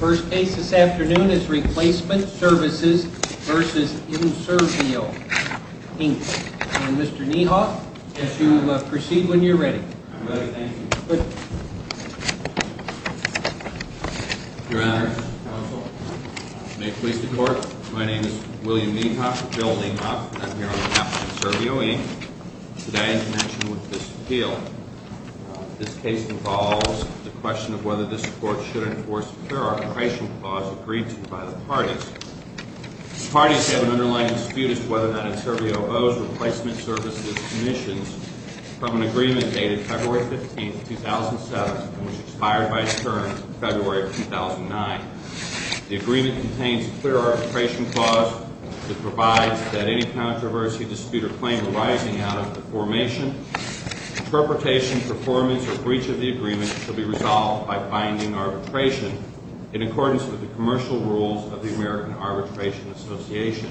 First case this afternoon is Replacement Services v. Enservio, Inc. And Mr. Niehoff, as you proceed when you're ready. I'm ready. Thank you. Good. Your Honor. Counsel. May it please the Court. My name is William Niehoff, Bill Niehoff. I'm here on behalf of Enservio, Inc. Today, in connection with this appeal, this case involves the question of whether this Court should enforce a clear arbitration clause agreed to by the parties. Parties have an underlying dispute as to whether or not Enservio owes Replacement Services commissions from an agreement dated February 15, 2007, and which expired by its term in February of 2009. The agreement contains a clear arbitration clause that provides that any controversy, dispute, or claim arising out of the formation interpretation, performance, or breach of the agreement should be resolved by binding arbitration in accordance with the commercial rules of the American Arbitration Association.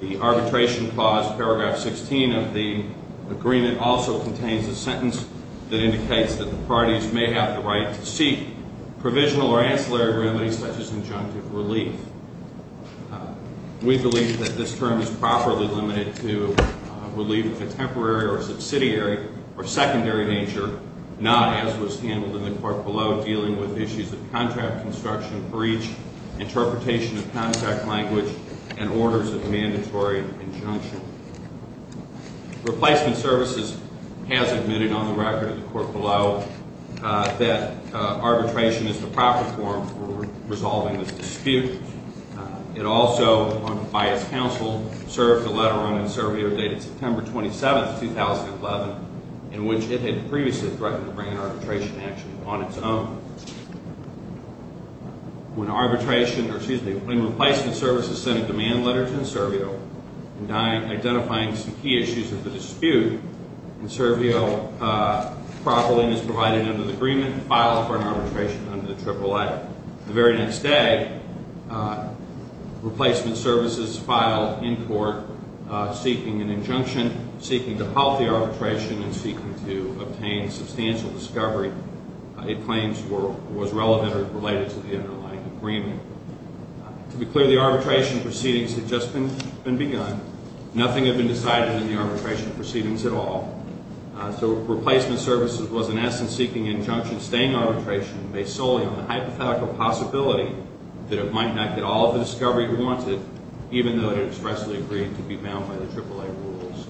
The arbitration clause, paragraph 16 of the agreement, also contains a sentence that indicates that the parties may have the right to seek provisional or ancillary remedies such as injunctive relief. We believe that this term is properly limited to relief of a temporary or subsidiary or secondary danger, not, as was handled in the Court below, dealing with issues of contract construction, breach, interpretation of contract language, and orders of mandatory injunction. Replacement Services has admitted on the record of the Court below that arbitration is the proper form for resolving this dispute. It also, by its counsel, served a letter on Enservio dated September 27, 2011, in which it had previously threatened to bring an arbitration action on its own. When Replacement Services sent a demand letter to Enservio identifying some key issues of the dispute, Enservio, properly and as provided under the agreement, filed for an arbitration under the AAA. The very next day, Replacement Services filed in court seeking an injunction, seeking to halt the arbitration, and seeking to obtain substantial discovery. It claims it was relevant or related to the AAA agreement. To be clear, the arbitration proceedings had just been begun. Nothing had been decided in the arbitration proceedings at all. So Replacement Services was, in essence, seeking injunction-staying arbitration based solely on the hypothetical possibility that it might not get all of the discovery it wanted, even though it had expressly agreed to be bound by the AAA rules.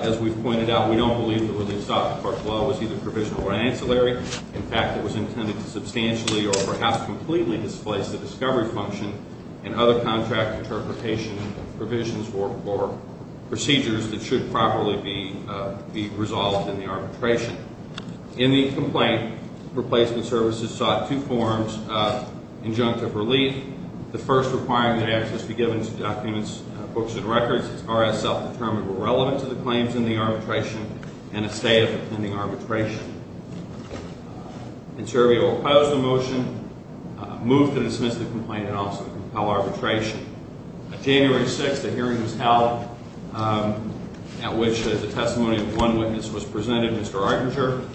As we've pointed out, we don't believe that what they sought to foreclose was either provisional or ancillary. In fact, it was intended to substantially or perhaps completely displace the discovery function and other contract interpretation provisions or procedures that should properly be resolved in the arbitration. In the complaint, Replacement Services sought two forms of injunctive relief, the first requiring that access be given to documents, books, and records as are as self-determined or relevant to the claims in the arbitration and a stay of the pending arbitration. And so we will oppose the motion, move to dismiss the complaint, and also compel arbitration. On January 6th, a hearing was held at which the testimony of one witness was presented, Mr. Artinger.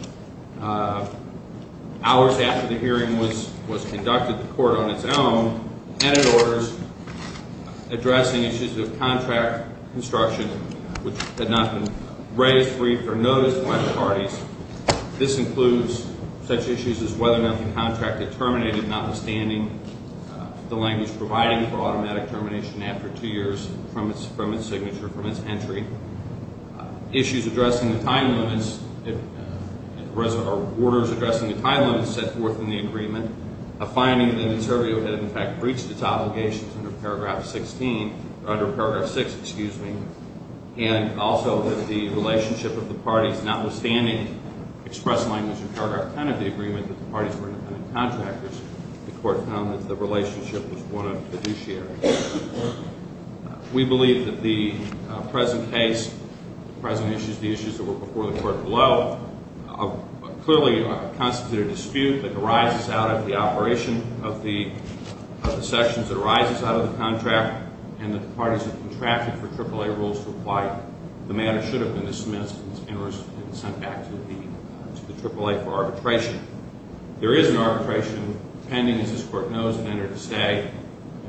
Hours after the hearing was conducted, the court on its own added orders addressing issues of contract construction, which had not been raised, briefed, or noticed by the parties. This includes such issues as whether or not the contract had terminated, notwithstanding the language providing for automatic termination after two years from its signature, from its entry. Issues addressing the time limits or orders addressing the time limits set forth in the agreement, a finding that the interviewee had in fact breached its obligations under Paragraph 16, or under Paragraph 6, excuse me, and also that the relationship of the parties, notwithstanding express language in Paragraph 10 of the agreement that the parties were independent contractors, the court found that the relationship was one of fiduciary. We believe that the present case, the present issues, the issues that were before the court below, clearly constitute a dispute that arises out of the operation of the sections that arises out of the contract and that the parties have contracted for AAA rules to apply. The matter should have been dismissed and sent back to the AAA for arbitration. There is an arbitration pending, as this court knows, and entered to say,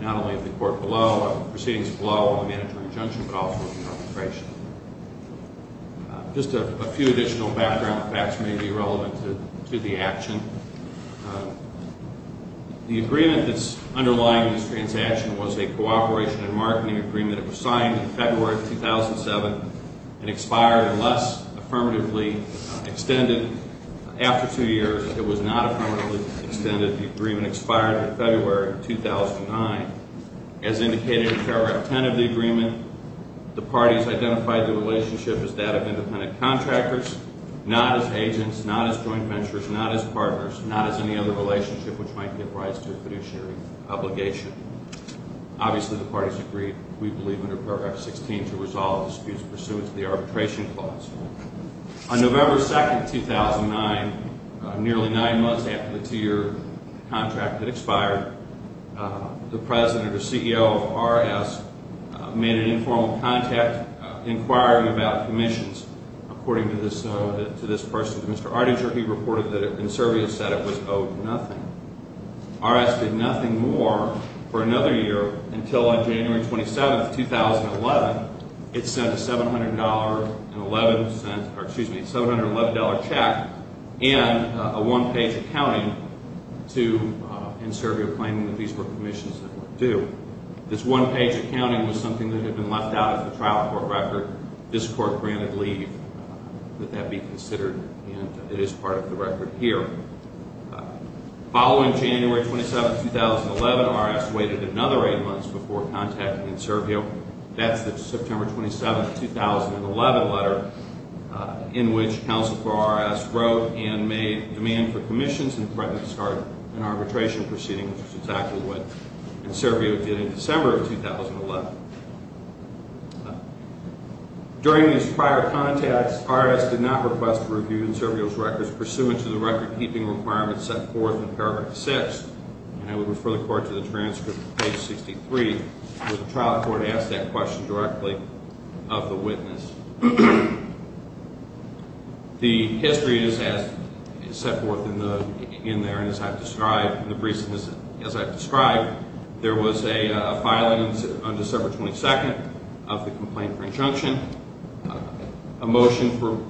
not only at the court below but proceedings below on the mandatory injunction calls for arbitration. Just a few additional background facts may be relevant to the action. The agreement that's underlying this transaction was a cooperation and marketing agreement. It was signed in February of 2007 and expired unless affirmatively extended. After two years, it was not affirmatively extended. The agreement expired in February of 2009. As indicated in Paragraph 10 of the agreement, the parties identified the relationship as that of independent contractors, not as agents, not as joint ventures, not as partners, not as any other relationship which might give rise to a fiduciary obligation. Obviously, the parties agreed, we believe, under Paragraph 16 to resolve disputes pursuant to the arbitration clause. On November 2, 2009, nearly nine months after the two-year contract had expired, the president or CEO of R.S. made an informal contact inquiring about commissions. According to this person, Mr. Ardinger, he reported that Inservio said it was owed nothing. R.S. did nothing more for another year until on January 27, 2011, it sent a $711 check and a one-page accounting to Inservio claiming that these were commissions that were due. This one-page accounting was something that had been left out of the trial court record. This court granted leave that that be considered, and it is part of the record here. Following January 27, 2011, R.S. waited another eight months before contacting Inservio. That's the September 27, 2011 letter in which counsel for R.S. wrote and made demand for commissions and threatened to start an arbitration proceeding, which is exactly what Inservio did in December of 2011. During this prior contact, R.S. did not request a review of Inservio's records pursuant to the record-keeping requirements set forth in Paragraph 6, and I would refer the court to the transcript, page 63, where the trial court asked that question directly of the witness. The history is set forth in there, and as I've described, there was a filing on December 22 of the complaint for injunction, a motion for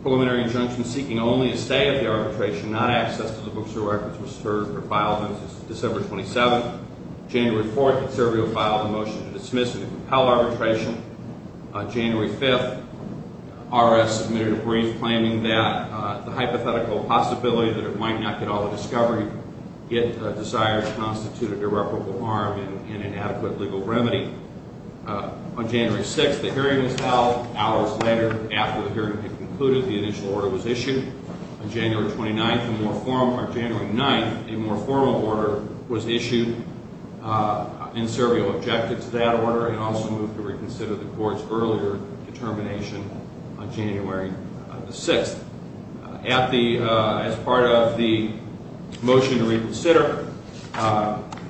preliminary injunction seeking only a stay at the arbitration, not access to the books or records was filed on December 27. January 4, Inservio filed a motion to dismiss and compel arbitration. January 5, R.S. submitted a brief claiming that the hypothetical possibility that it might not get all the discovery it desired constituted irreparable harm and inadequate legal remedy. On January 6, the hearing was held. Hours later, after the hearing had concluded, the initial order was issued. On January 9, a more formal order was issued. Inservio objected to that order and also moved to reconsider the court's earlier determination on January 6.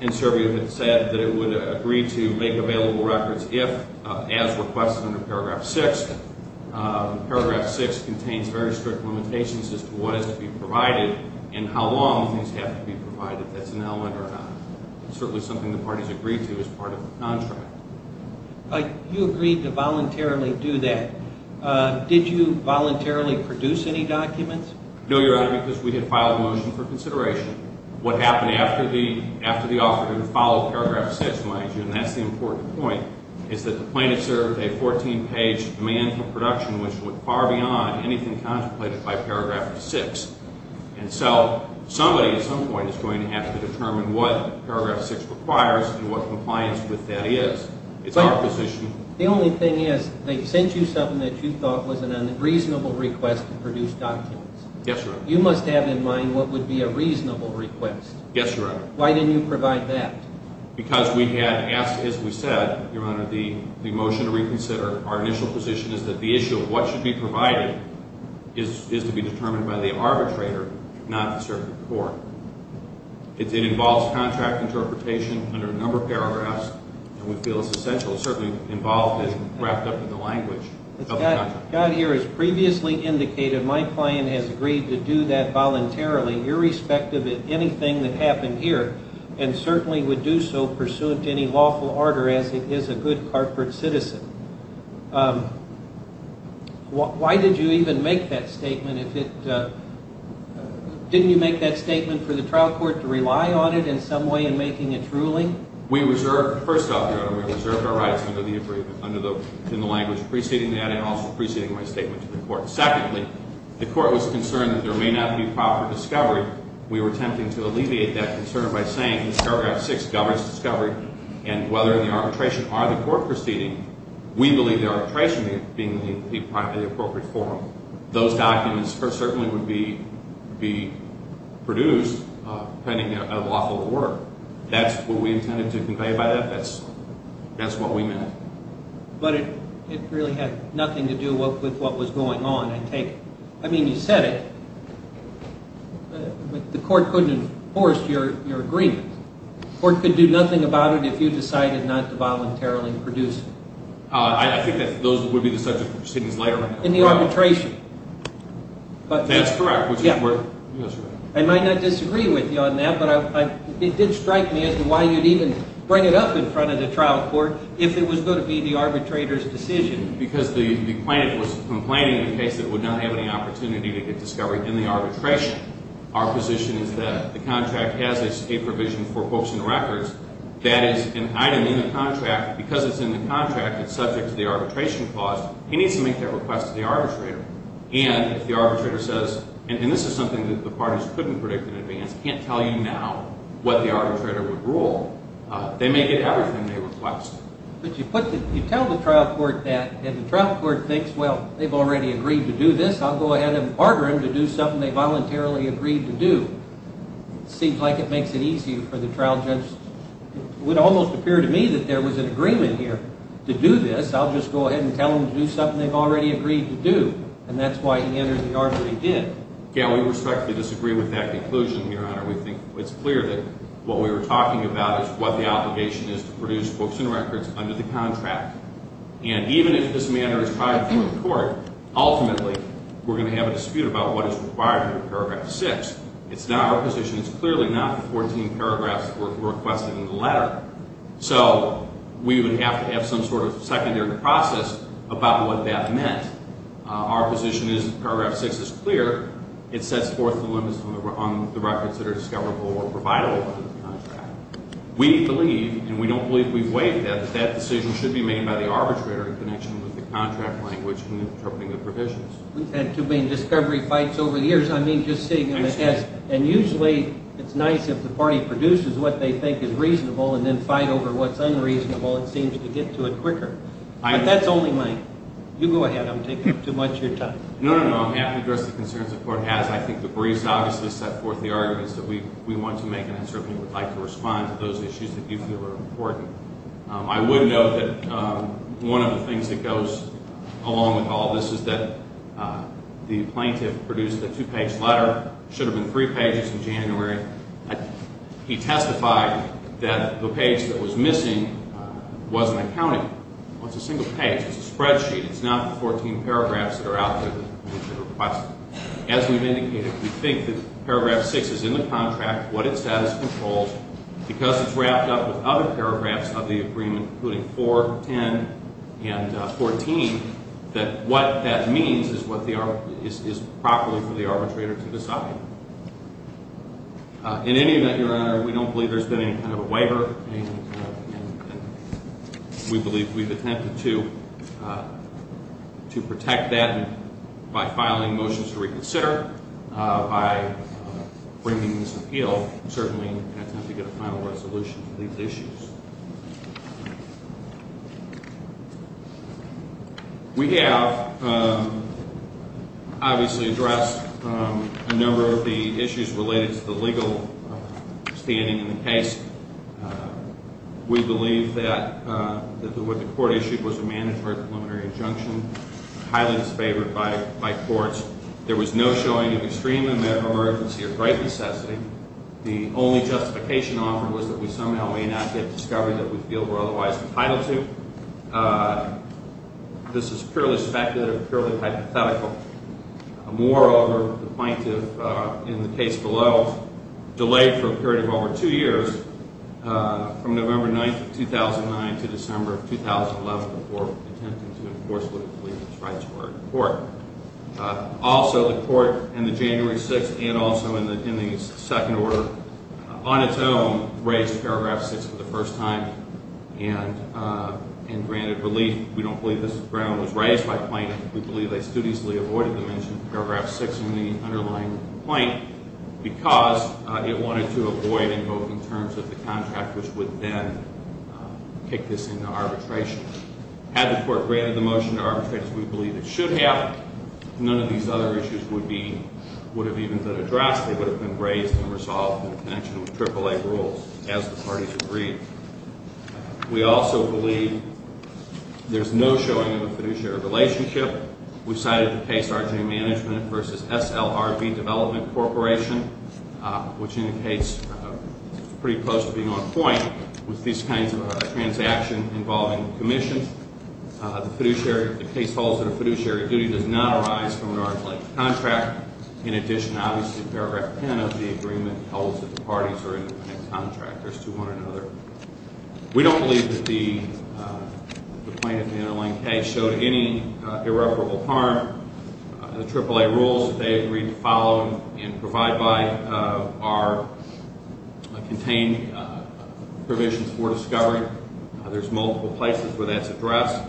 Inservio had said that it would agree to make available records if, as requested under Paragraph 6, Paragraph 6 contains very strict limitations as to what has to be provided and how long things have to be provided, if that's an element or not. It's certainly something the parties agreed to as part of the contract. You agreed to voluntarily do that. Did you voluntarily produce any documents? No, Your Honor, because we had filed a motion for consideration. What happened after the author had followed Paragraph 6, mind you, and that's the important point, is that the plaintiff served a 14-page demand for production which went far beyond anything contemplated by Paragraph 6. And so somebody at some point is going to have to determine what Paragraph 6 requires and what compliance with that is. It's our position. The only thing is they sent you something that you thought was a reasonable request to produce documents. Yes, Your Honor. You must have in mind what would be a reasonable request. Yes, Your Honor. Why didn't you provide that? Because we had asked, as we said, Your Honor, the motion to reconsider. Our initial position is that the issue of what should be provided is to be determined by the arbitrator, not the circuit court. It involves contract interpretation under a number of paragraphs, and we feel it's essential. It's certainly involved and wrapped up in the language of the contract. God here has previously indicated my client has agreed to do that voluntarily, irrespective of anything that happened here, and certainly would do so pursuant to any lawful order, as it is a good corporate citizen. Why did you even make that statement? Didn't you make that statement for the trial court to rely on it in some way in making its ruling? We reserved, first off, Your Honor, we reserved our rights under the agreement, in the language preceding that and also preceding my statement to the court. Secondly, the court was concerned that there may not be proper discovery. We were attempting to alleviate that concern by saying that paragraph 6 governs discovery, and whether the arbitration are the court proceeding, we believe the arbitration being the appropriate forum. Those documents certainly would be produced pending a lawful order. That's what we intended to convey by that. That's what we meant. But it really had nothing to do with what was going on. I mean, you said it, but the court couldn't enforce your agreement. The court could do nothing about it if you decided not to voluntarily produce it. I think that would be the subject of proceedings later. In the arbitration. That's correct. I might not disagree with you on that, but it did strike me as to why you'd even bring it up in front of the trial court if it was going to be the arbitrator's decision. Because the plaintiff was complaining of a case that would not have any opportunity to get discovery in the arbitration. Our position is that the contract has a provision for books and records that is an item in the contract. Because it's in the contract, it's subject to the arbitration clause. He needs to make that request to the arbitrator. And if the arbitrator says, and this is something that the parties couldn't predict in advance, can't tell you now what the arbitrator would rule, they may get everything they request. But you tell the trial court that, and the trial court thinks, well, they've already agreed to do this. I'll go ahead and order them to do something they voluntarily agreed to do. Seems like it makes it easier for the trial judge. It would almost appear to me that there was an agreement here. To do this, I'll just go ahead and tell them to do something they've already agreed to do. And that's why he entered the argument he did. Yeah, we respectfully disagree with that conclusion, Your Honor. We think it's clear that what we were talking about is what the obligation is to produce books and records under the contract. And even if this matter is tried before the court, ultimately, we're going to have a dispute about what is required under paragraph 6. It's not our position. So we would have to have some sort of secondary process about what that meant. Our position is that paragraph 6 is clear. It sets forth the limits on the records that are discoverable or providable under the contract. We believe, and we don't believe we've waived that, that that decision should be made by the arbitrator in connection with the contract language and interpreting the provisions. We've had two main discovery fights over the years. And usually it's nice if the party produces what they think is reasonable and then fight over what's unreasonable. It seems to get to it quicker. But that's only mine. You go ahead. I'm taking up too much of your time. No, no, no. I'm happy to address the concerns the court has. I think the briefs obviously set forth the arguments that we want to make and certainly would like to respond to those issues that you feel are important. I would note that one of the things that goes along with all this is that the plaintiff produced a two-page letter. It should have been three pages in January. He testified that the page that was missing wasn't accounted for. It's a single page. It's a spreadsheet. It's not the 14 paragraphs that are out there that we should request. As we've indicated, we think that paragraph 6 is in the contract, what it says, controls. Because it's wrapped up with other paragraphs of the agreement, including 4, 10, and 14, that what that means is properly for the arbitrator to decide. In any event, Your Honor, we don't believe there's been any kind of a waiver. And we believe we've attempted to protect that by filing motions to reconsider, by bringing this appeal, and certainly attempting to get a final resolution to these issues. We have obviously addressed a number of the issues related to the legal standing in the case. We believe that what the court issued was a mandatory preliminary injunction, highly disfavored by courts. There was no showing of extreme emergency or great necessity. The only justification offered was that we somehow may not get discovery that we feel we're otherwise entitled to. This is purely speculative, purely hypothetical. Moreover, the plaintiff in the case below delayed for a period of over 2 years, from November 9, 2009, to December of 2011, before attempting to enforce what it believed was right to our court. Also, the court, in the January 6th and also in the second order on its own, raised paragraph 6 for the first time and granted relief. We don't believe this ground was raised by plaintiff. We believe they still easily avoided the mention of paragraph 6 in the underlying plaint because it wanted to avoid it, both in terms of the contract, which would then kick this into arbitration. Had the court granted the motion to arbitrate, as we believe it should have, none of these other issues would have even been addressed. They would have been raised and resolved in connection with AAA rules, as the parties agreed. We also believe there's no showing of a fiduciary relationship. We cited the case R.J. Management v. SLRB Development Corporation, which indicates pretty close to being on point with these kinds of transactions involving commissions. The case holds that a fiduciary duty does not arise from an arbitration contract. In addition, obviously, paragraph 10 of the agreement holds that the parties are independent contractors to one another. We don't believe that the plaintiff in the underlying case showed any irreparable harm. The AAA rules that they agreed to follow and provide by are contained provisions for discovery. There's multiple places where that's addressed.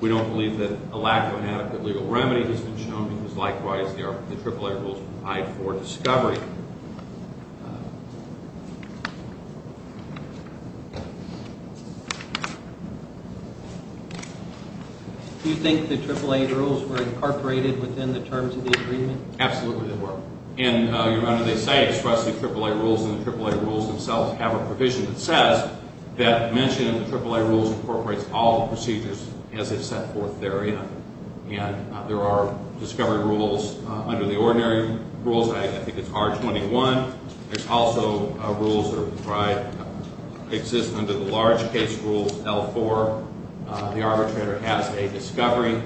We don't believe that a lack of adequate legal remedy has been shown because, likewise, the AAA rules provide for discovery. Do you think the AAA rules were incorporated within the terms of the agreement? Absolutely, they were. And your Honor, they say expressly AAA rules, and the AAA rules themselves have a provision that says that mentioning the AAA rules incorporates all procedures as they've set forth therein. And there are discovery rules under the ordinary rules. I think it's R21. There's also rules that exist under the large case rules, L4. The arbitrator has a discovery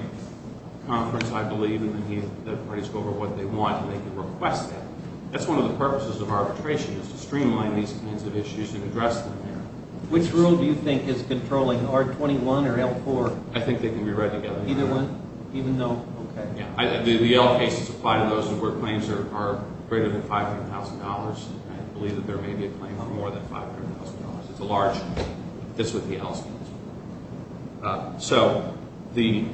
conference, I believe, and then the parties go over what they want and they can request that. That's one of the purposes of arbitration is to streamline these kinds of issues and address them there. Which rule do you think is controlling R21 or L4? I think they can be read together. Either one? Even though? Okay. The L cases apply to those where claims are greater than $500,000. I believe that there may be a claim for more than $500,000. It's a large case. That's what the L stands for. So the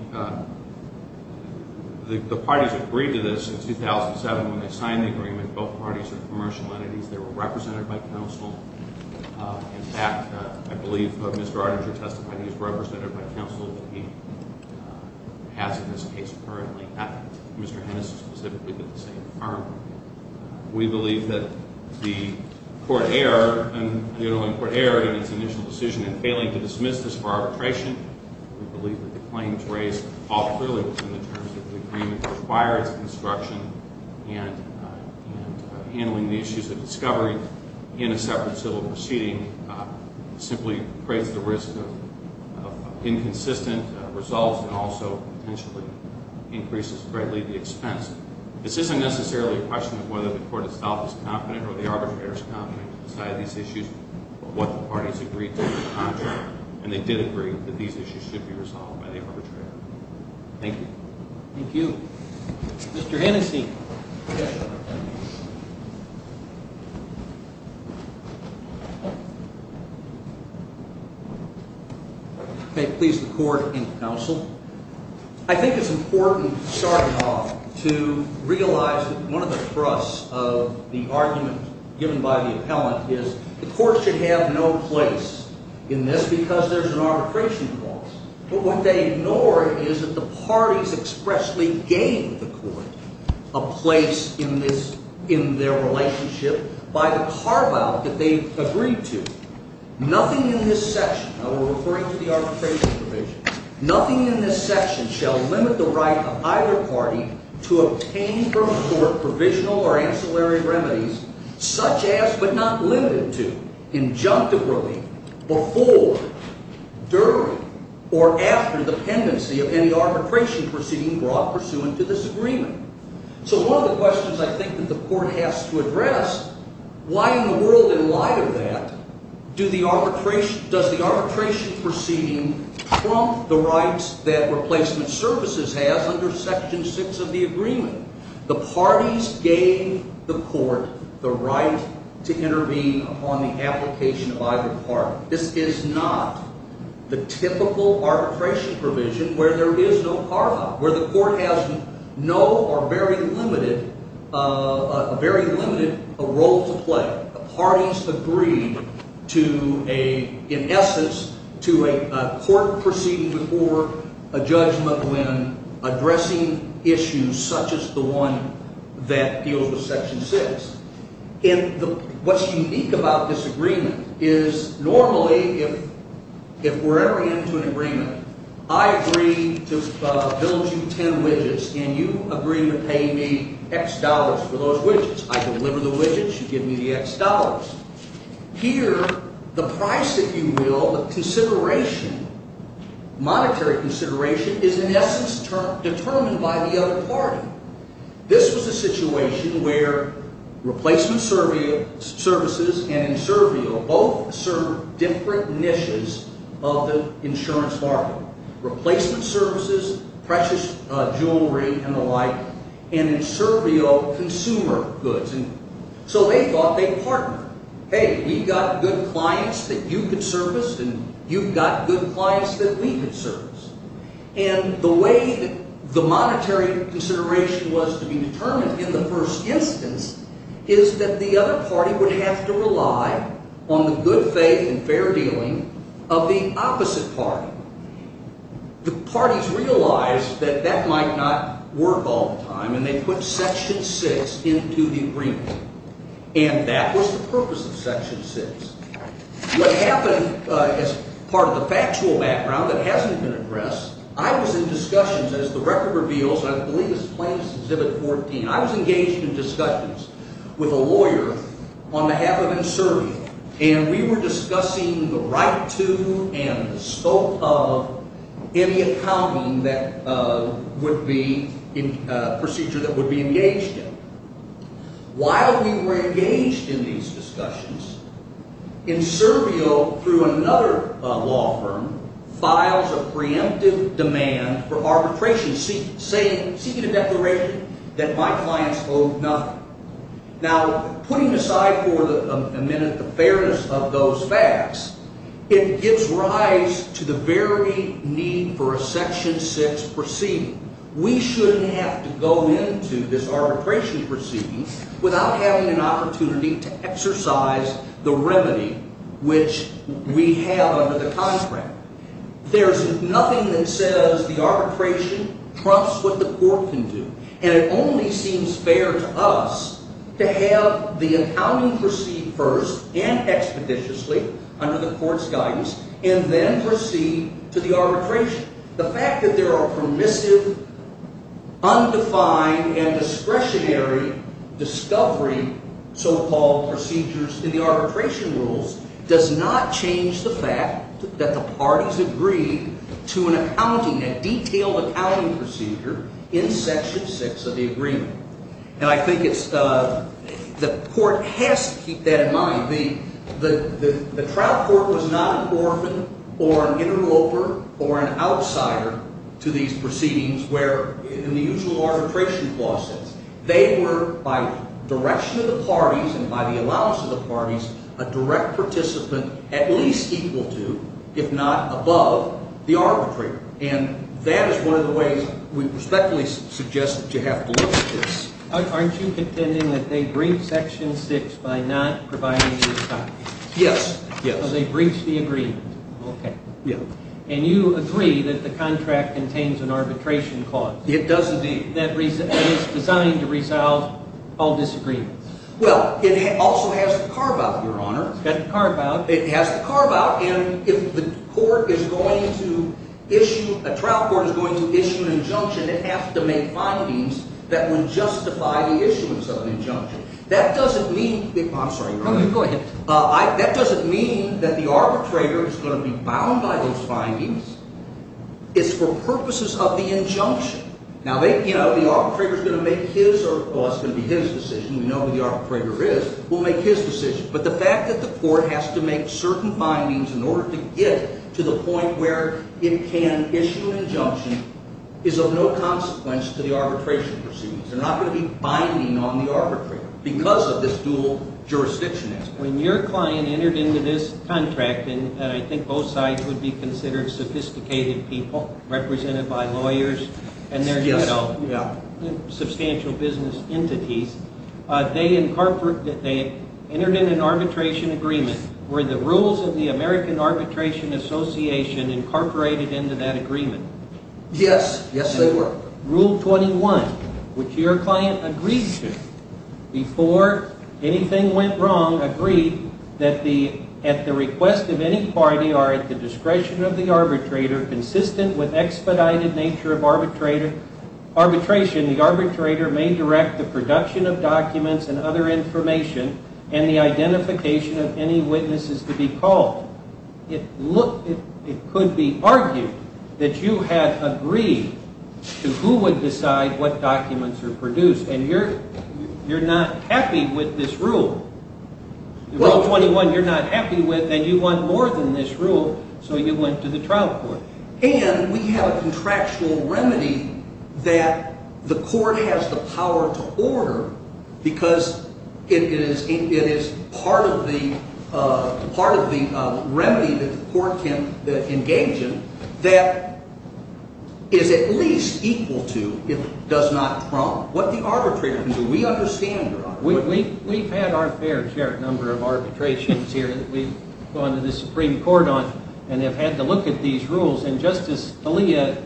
parties agreed to this in 2007 when they signed the agreement. Both parties are commercial entities. They were represented by counsel. In fact, I believe Mr. Ardinger testified he was represented by counsel. He has in this case currently Mr. Hennis specifically with the same firearm. We believe that the court error, the underlying court error in its initial decision in failing to dismiss this for arbitration, we believe that the claims raised all clearly within the terms of the agreement require its construction and handling the issues of discovery in a separate civil proceeding simply creates the risk of inconsistent results and also potentially increases greatly the expense. This isn't necessarily a question of whether the court itself is confident or the arbitrator is confident to decide these issues but what the parties agreed to in the contract. And they did agree that these issues should be resolved by the arbitrator. Thank you. Thank you. Mr. Hennessy. May it please the court and counsel. I think it's important starting off to realize that one of the thrusts of the argument given by the appellant is the court should have no place in this because there's an arbitration clause. But what they ignore is that the parties expressly gave the court a place in their relationship by the carve-out that they agreed to. Nothing in this section, and we're referring to the arbitration provision, nothing in this section shall limit the right of either party to obtain from the court provisional or ancillary remedies such as but not limited to, injunctively, before, during, or after the pendency of any arbitration proceeding brought pursuant to this agreement. So one of the questions I think that the court has to address, why in the world in light of that does the arbitration proceeding trump the rights that replacement services has under section six of the agreement? The parties gave the court the right to intervene upon the application of either party. This is not the typical arbitration provision where there is no carve-out, where the court has no or very limited role to play. The parties agreed to, in essence, to a court proceeding before a Judge McGuinn addressing issues such as the one that deals with section six. What's unique about this agreement is normally, if we're ever into an agreement, I agree to build you ten widgets and you agree to pay me X dollars for those widgets. I deliver the widgets, you give me the X dollars. Here, the price, if you will, the consideration, monetary consideration, is in essence determined by the other party. This was a situation where replacement services and Inservio both serve different niches of the insurance market. Replacement services, precious jewelry and the like, and Inservio, consumer goods. So they thought they'd partner. Hey, we've got good clients that you could service and you've got good clients that we could service. And the way the monetary consideration was to be determined in the first instance is that the other party would have to rely on the good faith and fair dealing of the opposite party. The parties realized that that might not work all the time and they put section six into the agreement. And that was the purpose of section six. What happened as part of the factual background that hasn't been addressed, I was in discussions as the record reveals, I believe it's plaintiff's exhibit 14, I was engaged in discussions with a lawyer on behalf of Inservio. And we were discussing the right to and the scope of any accounting that would be, procedure that would be engaged in. While we were engaged in these discussions, Inservio, through another law firm, files a preemptive demand for arbitration, seeking a declaration that my clients owe nothing. Now, putting aside for a minute the fairness of those facts, it gives rise to the very need for a section six proceeding. We shouldn't have to go into this arbitration proceeding without having an opportunity to exercise the remedy which we have under the contract. There's nothing that says the arbitration trumps what the court can do. And it only seems fair to us to have the accounting proceed first and expeditiously under the court's guidance and then proceed to the arbitration. The fact that there are permissive, undefined, and discretionary discovery so-called procedures in the arbitration rules does not change the fact that the parties agree to an accounting, a detailed accounting procedure, in section six of the agreement. And I think it's, the court has to keep that in mind. The trial court was not an orphan or an interloper or an outsider to these proceedings where, in the usual arbitration law sense, they were, by direction of the parties and by the allowance of the parties, a direct participant at least equal to, if not above, the arbitrator. And that is one of the ways we respectfully suggest that you have to look at this. Aren't you contending that they briefed section six by not providing the accounting? Yes. So they briefed the agreement. Okay. Yeah. And you agree that the contract contains an arbitration clause. It does indeed. That is designed to resolve all disagreements. Well, it also has to carve out, Your Honor. It has to carve out. It has to carve out. And if the court is going to issue, a trial court is going to issue an injunction, it has to make findings that would justify the issuance of an injunction. That doesn't mean, I'm sorry, Your Honor. Go ahead. That doesn't mean that the arbitrator is going to be bound by those findings. It's for purposes of the injunction. Now, they, you know, the arbitrator is going to make his or, well, it's going to be his decision. We know who the arbitrator is. We'll make his decision. But the fact that the court has to make certain findings in order to get to the point where it can issue an injunction is of no consequence to the arbitration proceedings. They're not going to be binding on the arbitrator because of this dual jurisdiction aspect. When your client entered into this contract, and I think both sides would be considered sophisticated people, represented by lawyers and their, you know, substantial business entities, they entered in an arbitration agreement. Were the rules of the American Arbitration Association incorporated into that agreement? Yes. Yes, they were. Rule 21, which your client agreed to before anything went wrong, agreed that at the request of any party or at the discretion of the arbitrator, consistent with expedited nature of arbitration, the arbitrator may direct the production of documents and other information and the identification of any witnesses to be called. It could be argued that you had agreed to who would decide what documents are produced, and you're not happy with this rule. Rule 21, you're not happy with, and you want more than this rule, so you went to the trial court. And we have a contractual remedy that the court has the power to order because it is part of the remedy that the court can engage in that is at least equal to if it does not trump what the arbitrator can do. We understand your argument. We've had our fair share of number of arbitrations here that we've gone to the Supreme Court on, and they've had to look at these rules. And Justice Scalia,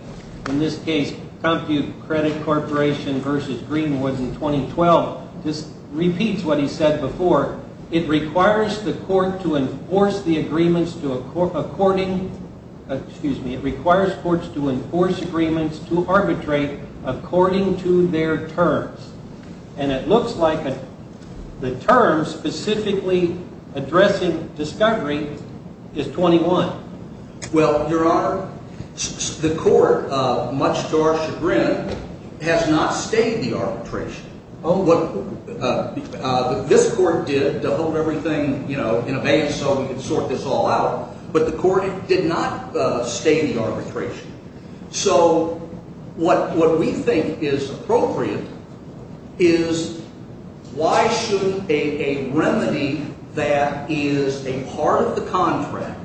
in this case, Compute Credit Corporation v. Greenwood in 2012, just repeats what he said before. It requires courts to enforce agreements to arbitrate according to their terms. And it looks like the term specifically addressing discovery is 21. Well, Your Honor, the court, much to our chagrin, has not stayed the arbitration. What this court did to hold everything in abeyance so we could sort this all out, but the court did not stay the arbitration. So what we think is appropriate is why should a remedy that is a part of the contract,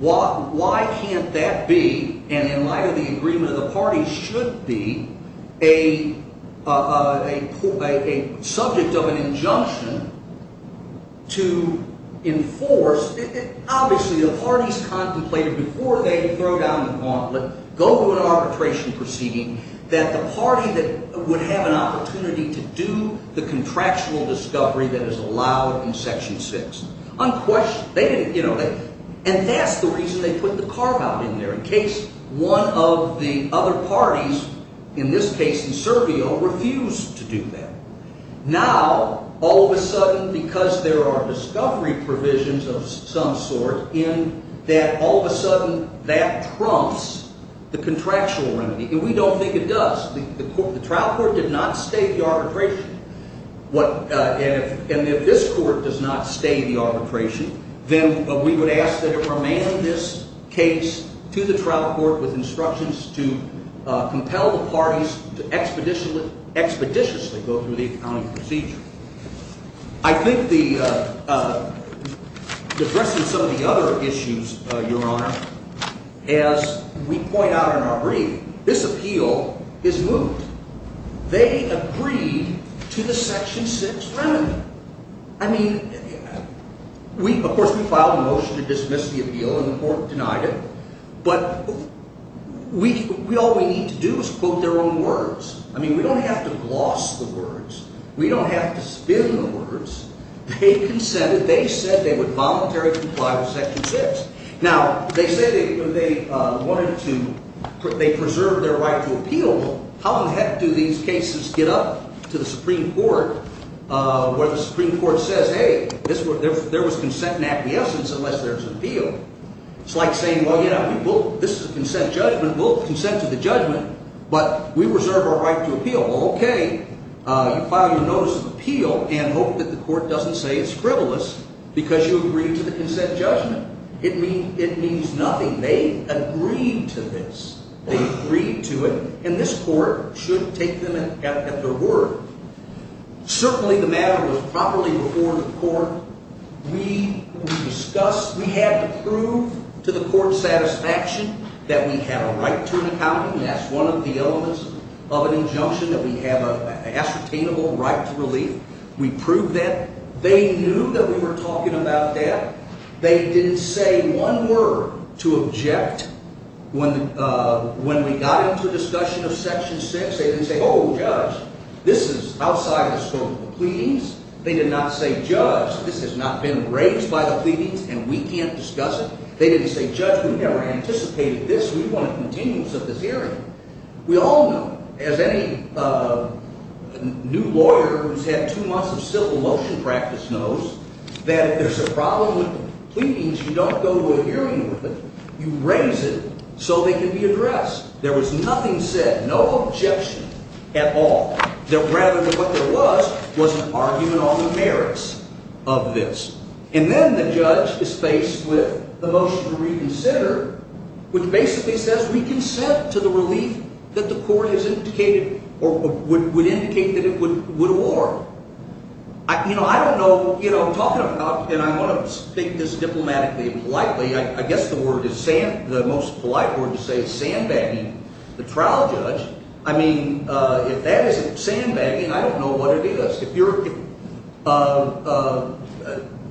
why can't that be, and in light of the agreement of the parties, should be a subject of an injunction to enforce? Obviously, the parties contemplated before they throw down the gauntlet, go to an arbitration proceeding, that the party that would have an opportunity to do the contractual discovery that is allowed in Section 6. And that's the reason they put the carve-out in there, in case one of the other parties, in this case the servio, refused to do that. Now, all of a sudden, because there are discovery provisions of some sort, in that all of a sudden that trumps the contractual remedy. And we don't think it does. The trial court did not stay the arbitration. And if this court does not stay the arbitration, then we would ask that it remain in this case to the trial court with instructions to compel the parties to expeditiously go through the accounting procedure. I think addressing some of the other issues, Your Honor, as we point out in our brief, this appeal is moved. They agreed to the Section 6 remedy. I mean, of course, we filed a motion to dismiss the appeal, and the court denied it. But all we need to do is quote their own words. I mean, we don't have to gloss the words. We don't have to spin the words. They consented. They said they would voluntarily comply with Section 6. Now, they said they wanted to preserve their right to appeal. How the heck do these cases get up to the Supreme Court, where the Supreme Court says, hey, there was consent and acquiescence unless there was an appeal? It's like saying, well, yeah, this is a consent judgment. We'll consent to the judgment, but we reserve our right to appeal. Well, okay. You file your notice of appeal and hope that the court doesn't say it's frivolous because you agreed to the consent judgment. It means nothing. They agreed to this. They agreed to it, and this court should take them at their word. Certainly, the matter was properly before the court. We discussed. We had to prove to the court's satisfaction that we have a right to an accounting. That's one of the elements of an injunction, that we have an ascertainable right to relief. We proved that. They knew that we were talking about that. They didn't say one word to object. When we got into a discussion of Section 6, they didn't say, oh, judge, this is outside the scope of the pleadings. They did not say, judge, this has not been raised by the pleadings, and we can't discuss it. They didn't say, judge, we never anticipated this. We want a continuance of this hearing. We all know, as any new lawyer who's had two months of civil motion practice knows, that if there's a problem with the pleadings, you don't go to a hearing with it. You raise it so they can be addressed. There was nothing said, no objection at all. Rather than what there was, was an argument on the merits of this. And then the judge is faced with the motion to reconsider, which basically says we consent to the relief that the court has indicated or would indicate that it would award. I don't know. I'm talking about, and I want to speak this diplomatically and politely. I guess the most polite word to say is sandbagging the trial judge. I mean, if that isn't sandbagging, I don't know what it is.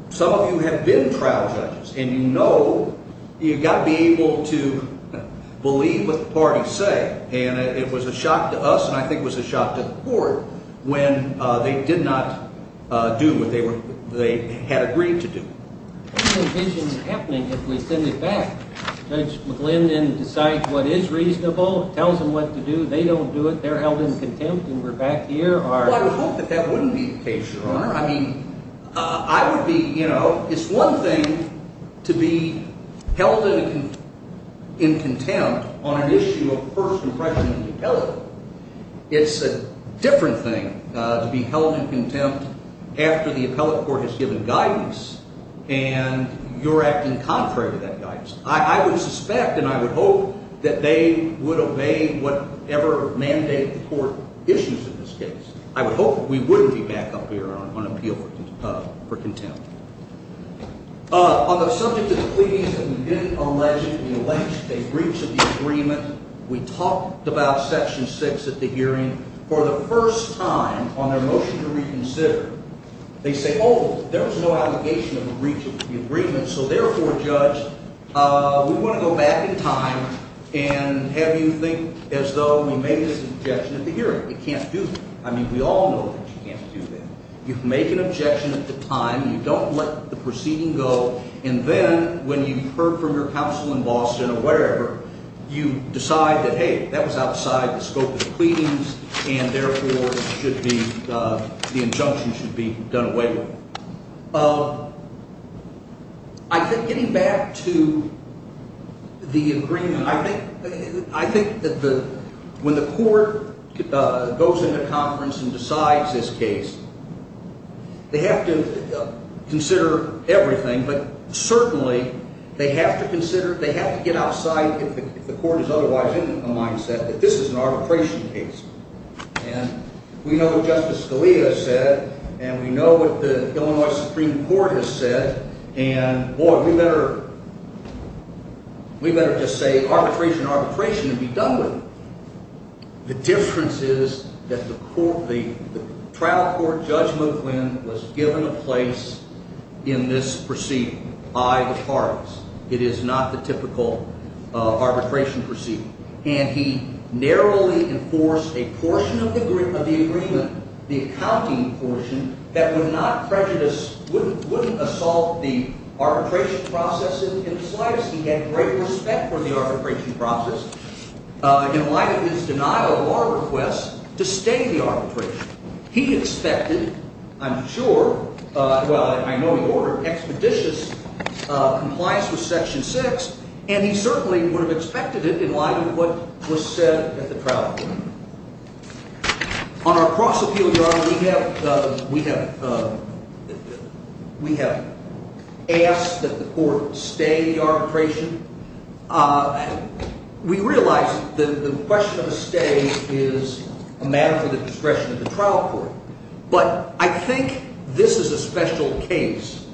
Some of you have been trial judges, and you know you've got to be able to believe what the parties say. And it was a shock to us, and I think it was a shock to the court, when they did not do what they had agreed to do. What do you envision happening if we send it back? Judge McGlynn then decides what is reasonable, tells them what to do. They don't do it. They're held in contempt, and we're back here. Well, I would hope that that wouldn't be the case, Your Honor. I mean, I would be, you know, it's one thing to be held in contempt on an issue of first impression in the appellate. It's a different thing to be held in contempt after the appellate court has given guidance, and you're acting contrary to that guidance. I would suspect, and I would hope, that they would obey whatever mandate the court issues in this case. I would hope that we wouldn't be back up here on appeal for contempt. On the subject of the pleadings that have been alleged, we reached an agreement. We talked about Section 6 at the hearing. For the first time on their motion to reconsider, they say, oh, there was no allegation of a breach of the agreement, so therefore, Judge, we want to go back in time and have you think as though we made this objection at the hearing. You can't do that. I mean, we all know that you can't do that. You make an objection at the time. You don't let the proceeding go, and then when you've heard from your counsel in Boston or wherever, you decide that, hey, that was outside the scope of the pleadings, and therefore the injunction should be done away with. I think getting back to the agreement, I think that when the court goes into conference and decides this case, they have to consider everything, but certainly they have to consider, they have to get outside, if the court is otherwise in a mindset, that this is an arbitration case. And we know what Justice Scalia said, and we know what the Illinois Supreme Court has said, and, boy, we better just say arbitration, arbitration, and be done with it. The difference is that the trial court, Judge McQuinn, was given a place in this proceeding by the parties. It is not the typical arbitration proceeding, and he narrowly enforced a portion of the agreement, the accounting portion, that would not prejudice, wouldn't assault the arbitration process in the slightest. He had great respect for the arbitration process. In light of his denial of our request to stay the arbitration, he expected, I'm sure, well, I know he ordered expeditious compliance with Section 6, and he certainly would have expected it in light of what was said at the trial court. On our cross-appeal, Your Honor, we have asked that the court stay the arbitration. We realize that the question of a stay is a matter for the discretion of the trial court, but I think this is a special case.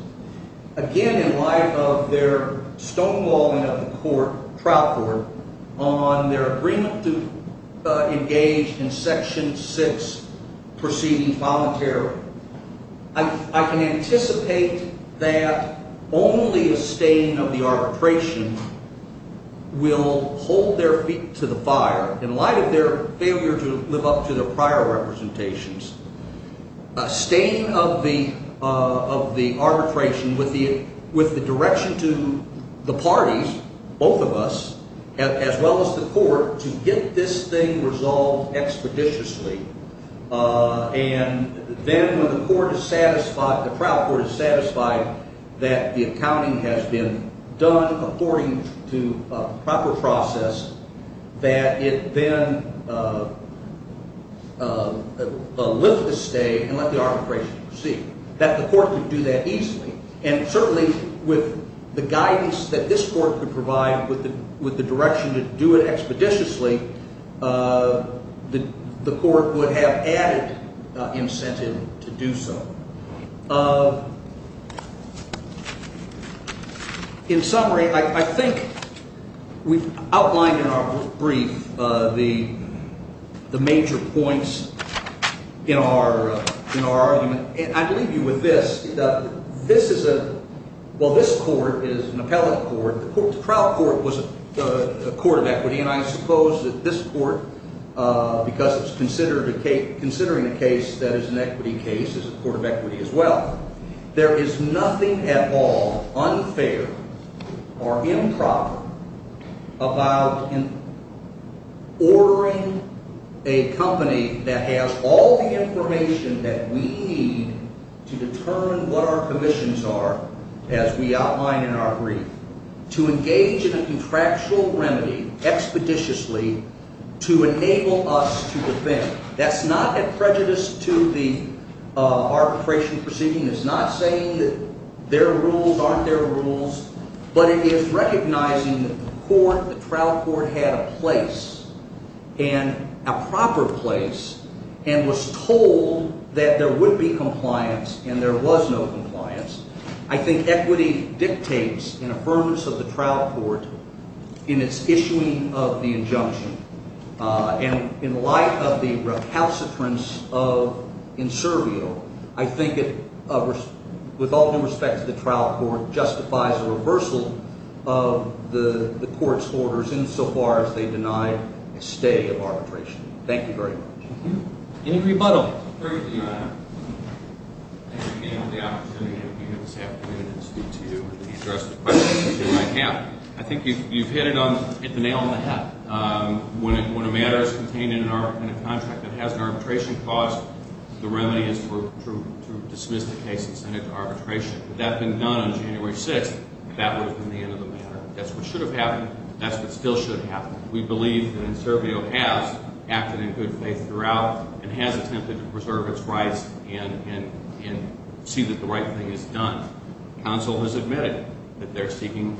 Again, in light of their stonewalling of the court, trial court, on their agreement to engage in Section 6 proceeding voluntarily, I can anticipate that only a staying of the arbitration will hold their feet to the fire. In light of their failure to live up to their prior representations, a staying of the arbitration with the direction to the parties, both of us, as well as the court, to get this thing resolved expeditiously, and then when the trial court is satisfied that the accounting has been done according to proper process, that it then lift the stay and let the arbitration proceed. That the court could do that easily, and certainly with the guidance that this court could provide with the direction to do it expeditiously, the court would have added incentive to do so. In summary, I think we've outlined in our brief the major points in our argument, and I'd leave you with this. This is a, well, this court is an appellate court. The trial court was a court of equity, and I suppose that this court, because it's considering a case that is an equity case, is a court of equity as well. There is nothing at all unfair or improper about ordering a company that has all the information that we need to determine what our commissions are, as we outline in our brief, to engage in a contractual remedy expeditiously to enable us to defend. That's not a prejudice to the arbitration proceeding. It's not saying that there are rules, aren't there rules, but it is recognizing that the trial court had a place, and a proper place, and was told that there would be compliance, and there was no compliance. I think equity dictates an affirmance of the trial court in its issuing of the injunction, and in light of the recalcitrance of Insurio, I think it, with all due respect to the trial court, justifies a reversal of the court's orders insofar as they deny a stay of arbitration. Thank you very much. Any rebuttal? Thank you again for the opportunity to be here this afternoon and speak to you and address the questions that you might have. I think you've hit the nail on the head. When a matter is contained in a contract that has an arbitration clause, the remedy is to dismiss the case and send it to arbitration. If that had been done on January 6th, that would have been the end of the matter. That's what should have happened. That's what still should happen. We believe that Insurio has acted in good faith throughout and has attempted to preserve its rights and see that the right thing is done. Counsel has admitted that they're seeking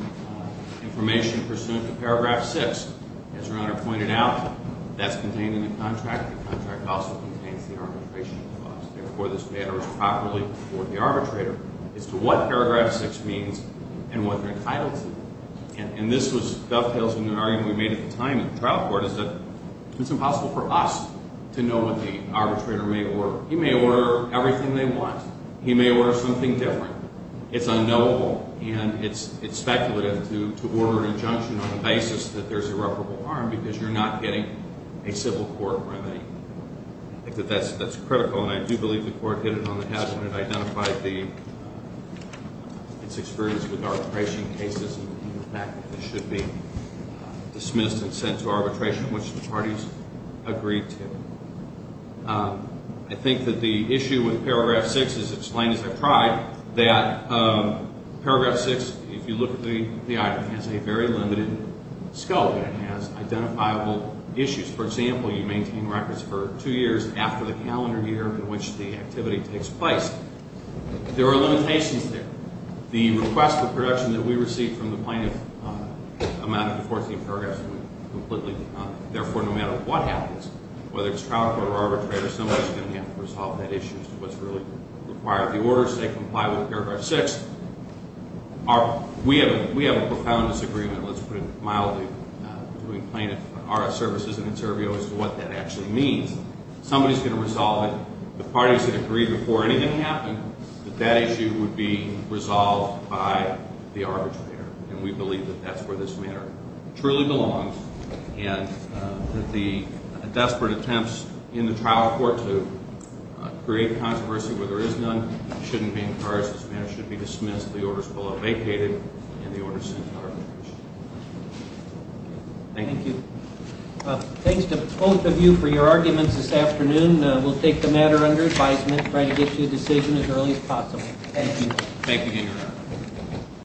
information pursuant to Paragraph 6. As Your Honor pointed out, that's contained in the contract. The contract also contains the arbitration clause. Therefore, this matter is properly before the arbitrator as to what Paragraph 6 means and what they're entitled to. And this dovetails with an argument we made at the time in the trial court, is that it's impossible for us to know what the arbitrator may order. He may order everything they want. He may order something different. It's unknowable, and it's speculative to order an injunction on the basis that there's irreparable harm because you're not getting a civil court remedy. I think that that's critical, and I do believe the court hit it on the head when it identified its experience with arbitration cases and the fact that it should be dismissed and sent to arbitration, which the parties agreed to. I think that the issue with Paragraph 6 is explained, as I've tried, that Paragraph 6, if you look at the item, has a very limited scope, and it has identifiable issues. For example, you maintain records for two years after the calendar year in which the activity takes place. There are limitations there. The request for production that we receive from the plaintiff amounted to 14 paragraphs, and we completely deny it. Therefore, no matter what happens, whether it's trial court or arbitrator, somebody's going to have to resolve that issue as to what's really required. The orders, they comply with Paragraph 6. We have a profound disagreement, let's put it mildly, between Plaintiff and RS Services and Inservio as to what that actually means. Somebody's going to resolve it. The parties had agreed before anything happened that that issue would be resolved by the arbitrator, and we believe that that's where this matter truly belongs, and that the desperate attempts in the trial court to create controversy where there is none shouldn't be encouraged. This matter should be dismissed. The orders will have vacated, and the orders sent to arbitration. Thank you. Thank you. Thanks to both of you for your arguments this afternoon. We'll take the matter under advisement and try to get to a decision as early as possible. Thank you. Thank you, Your Honor.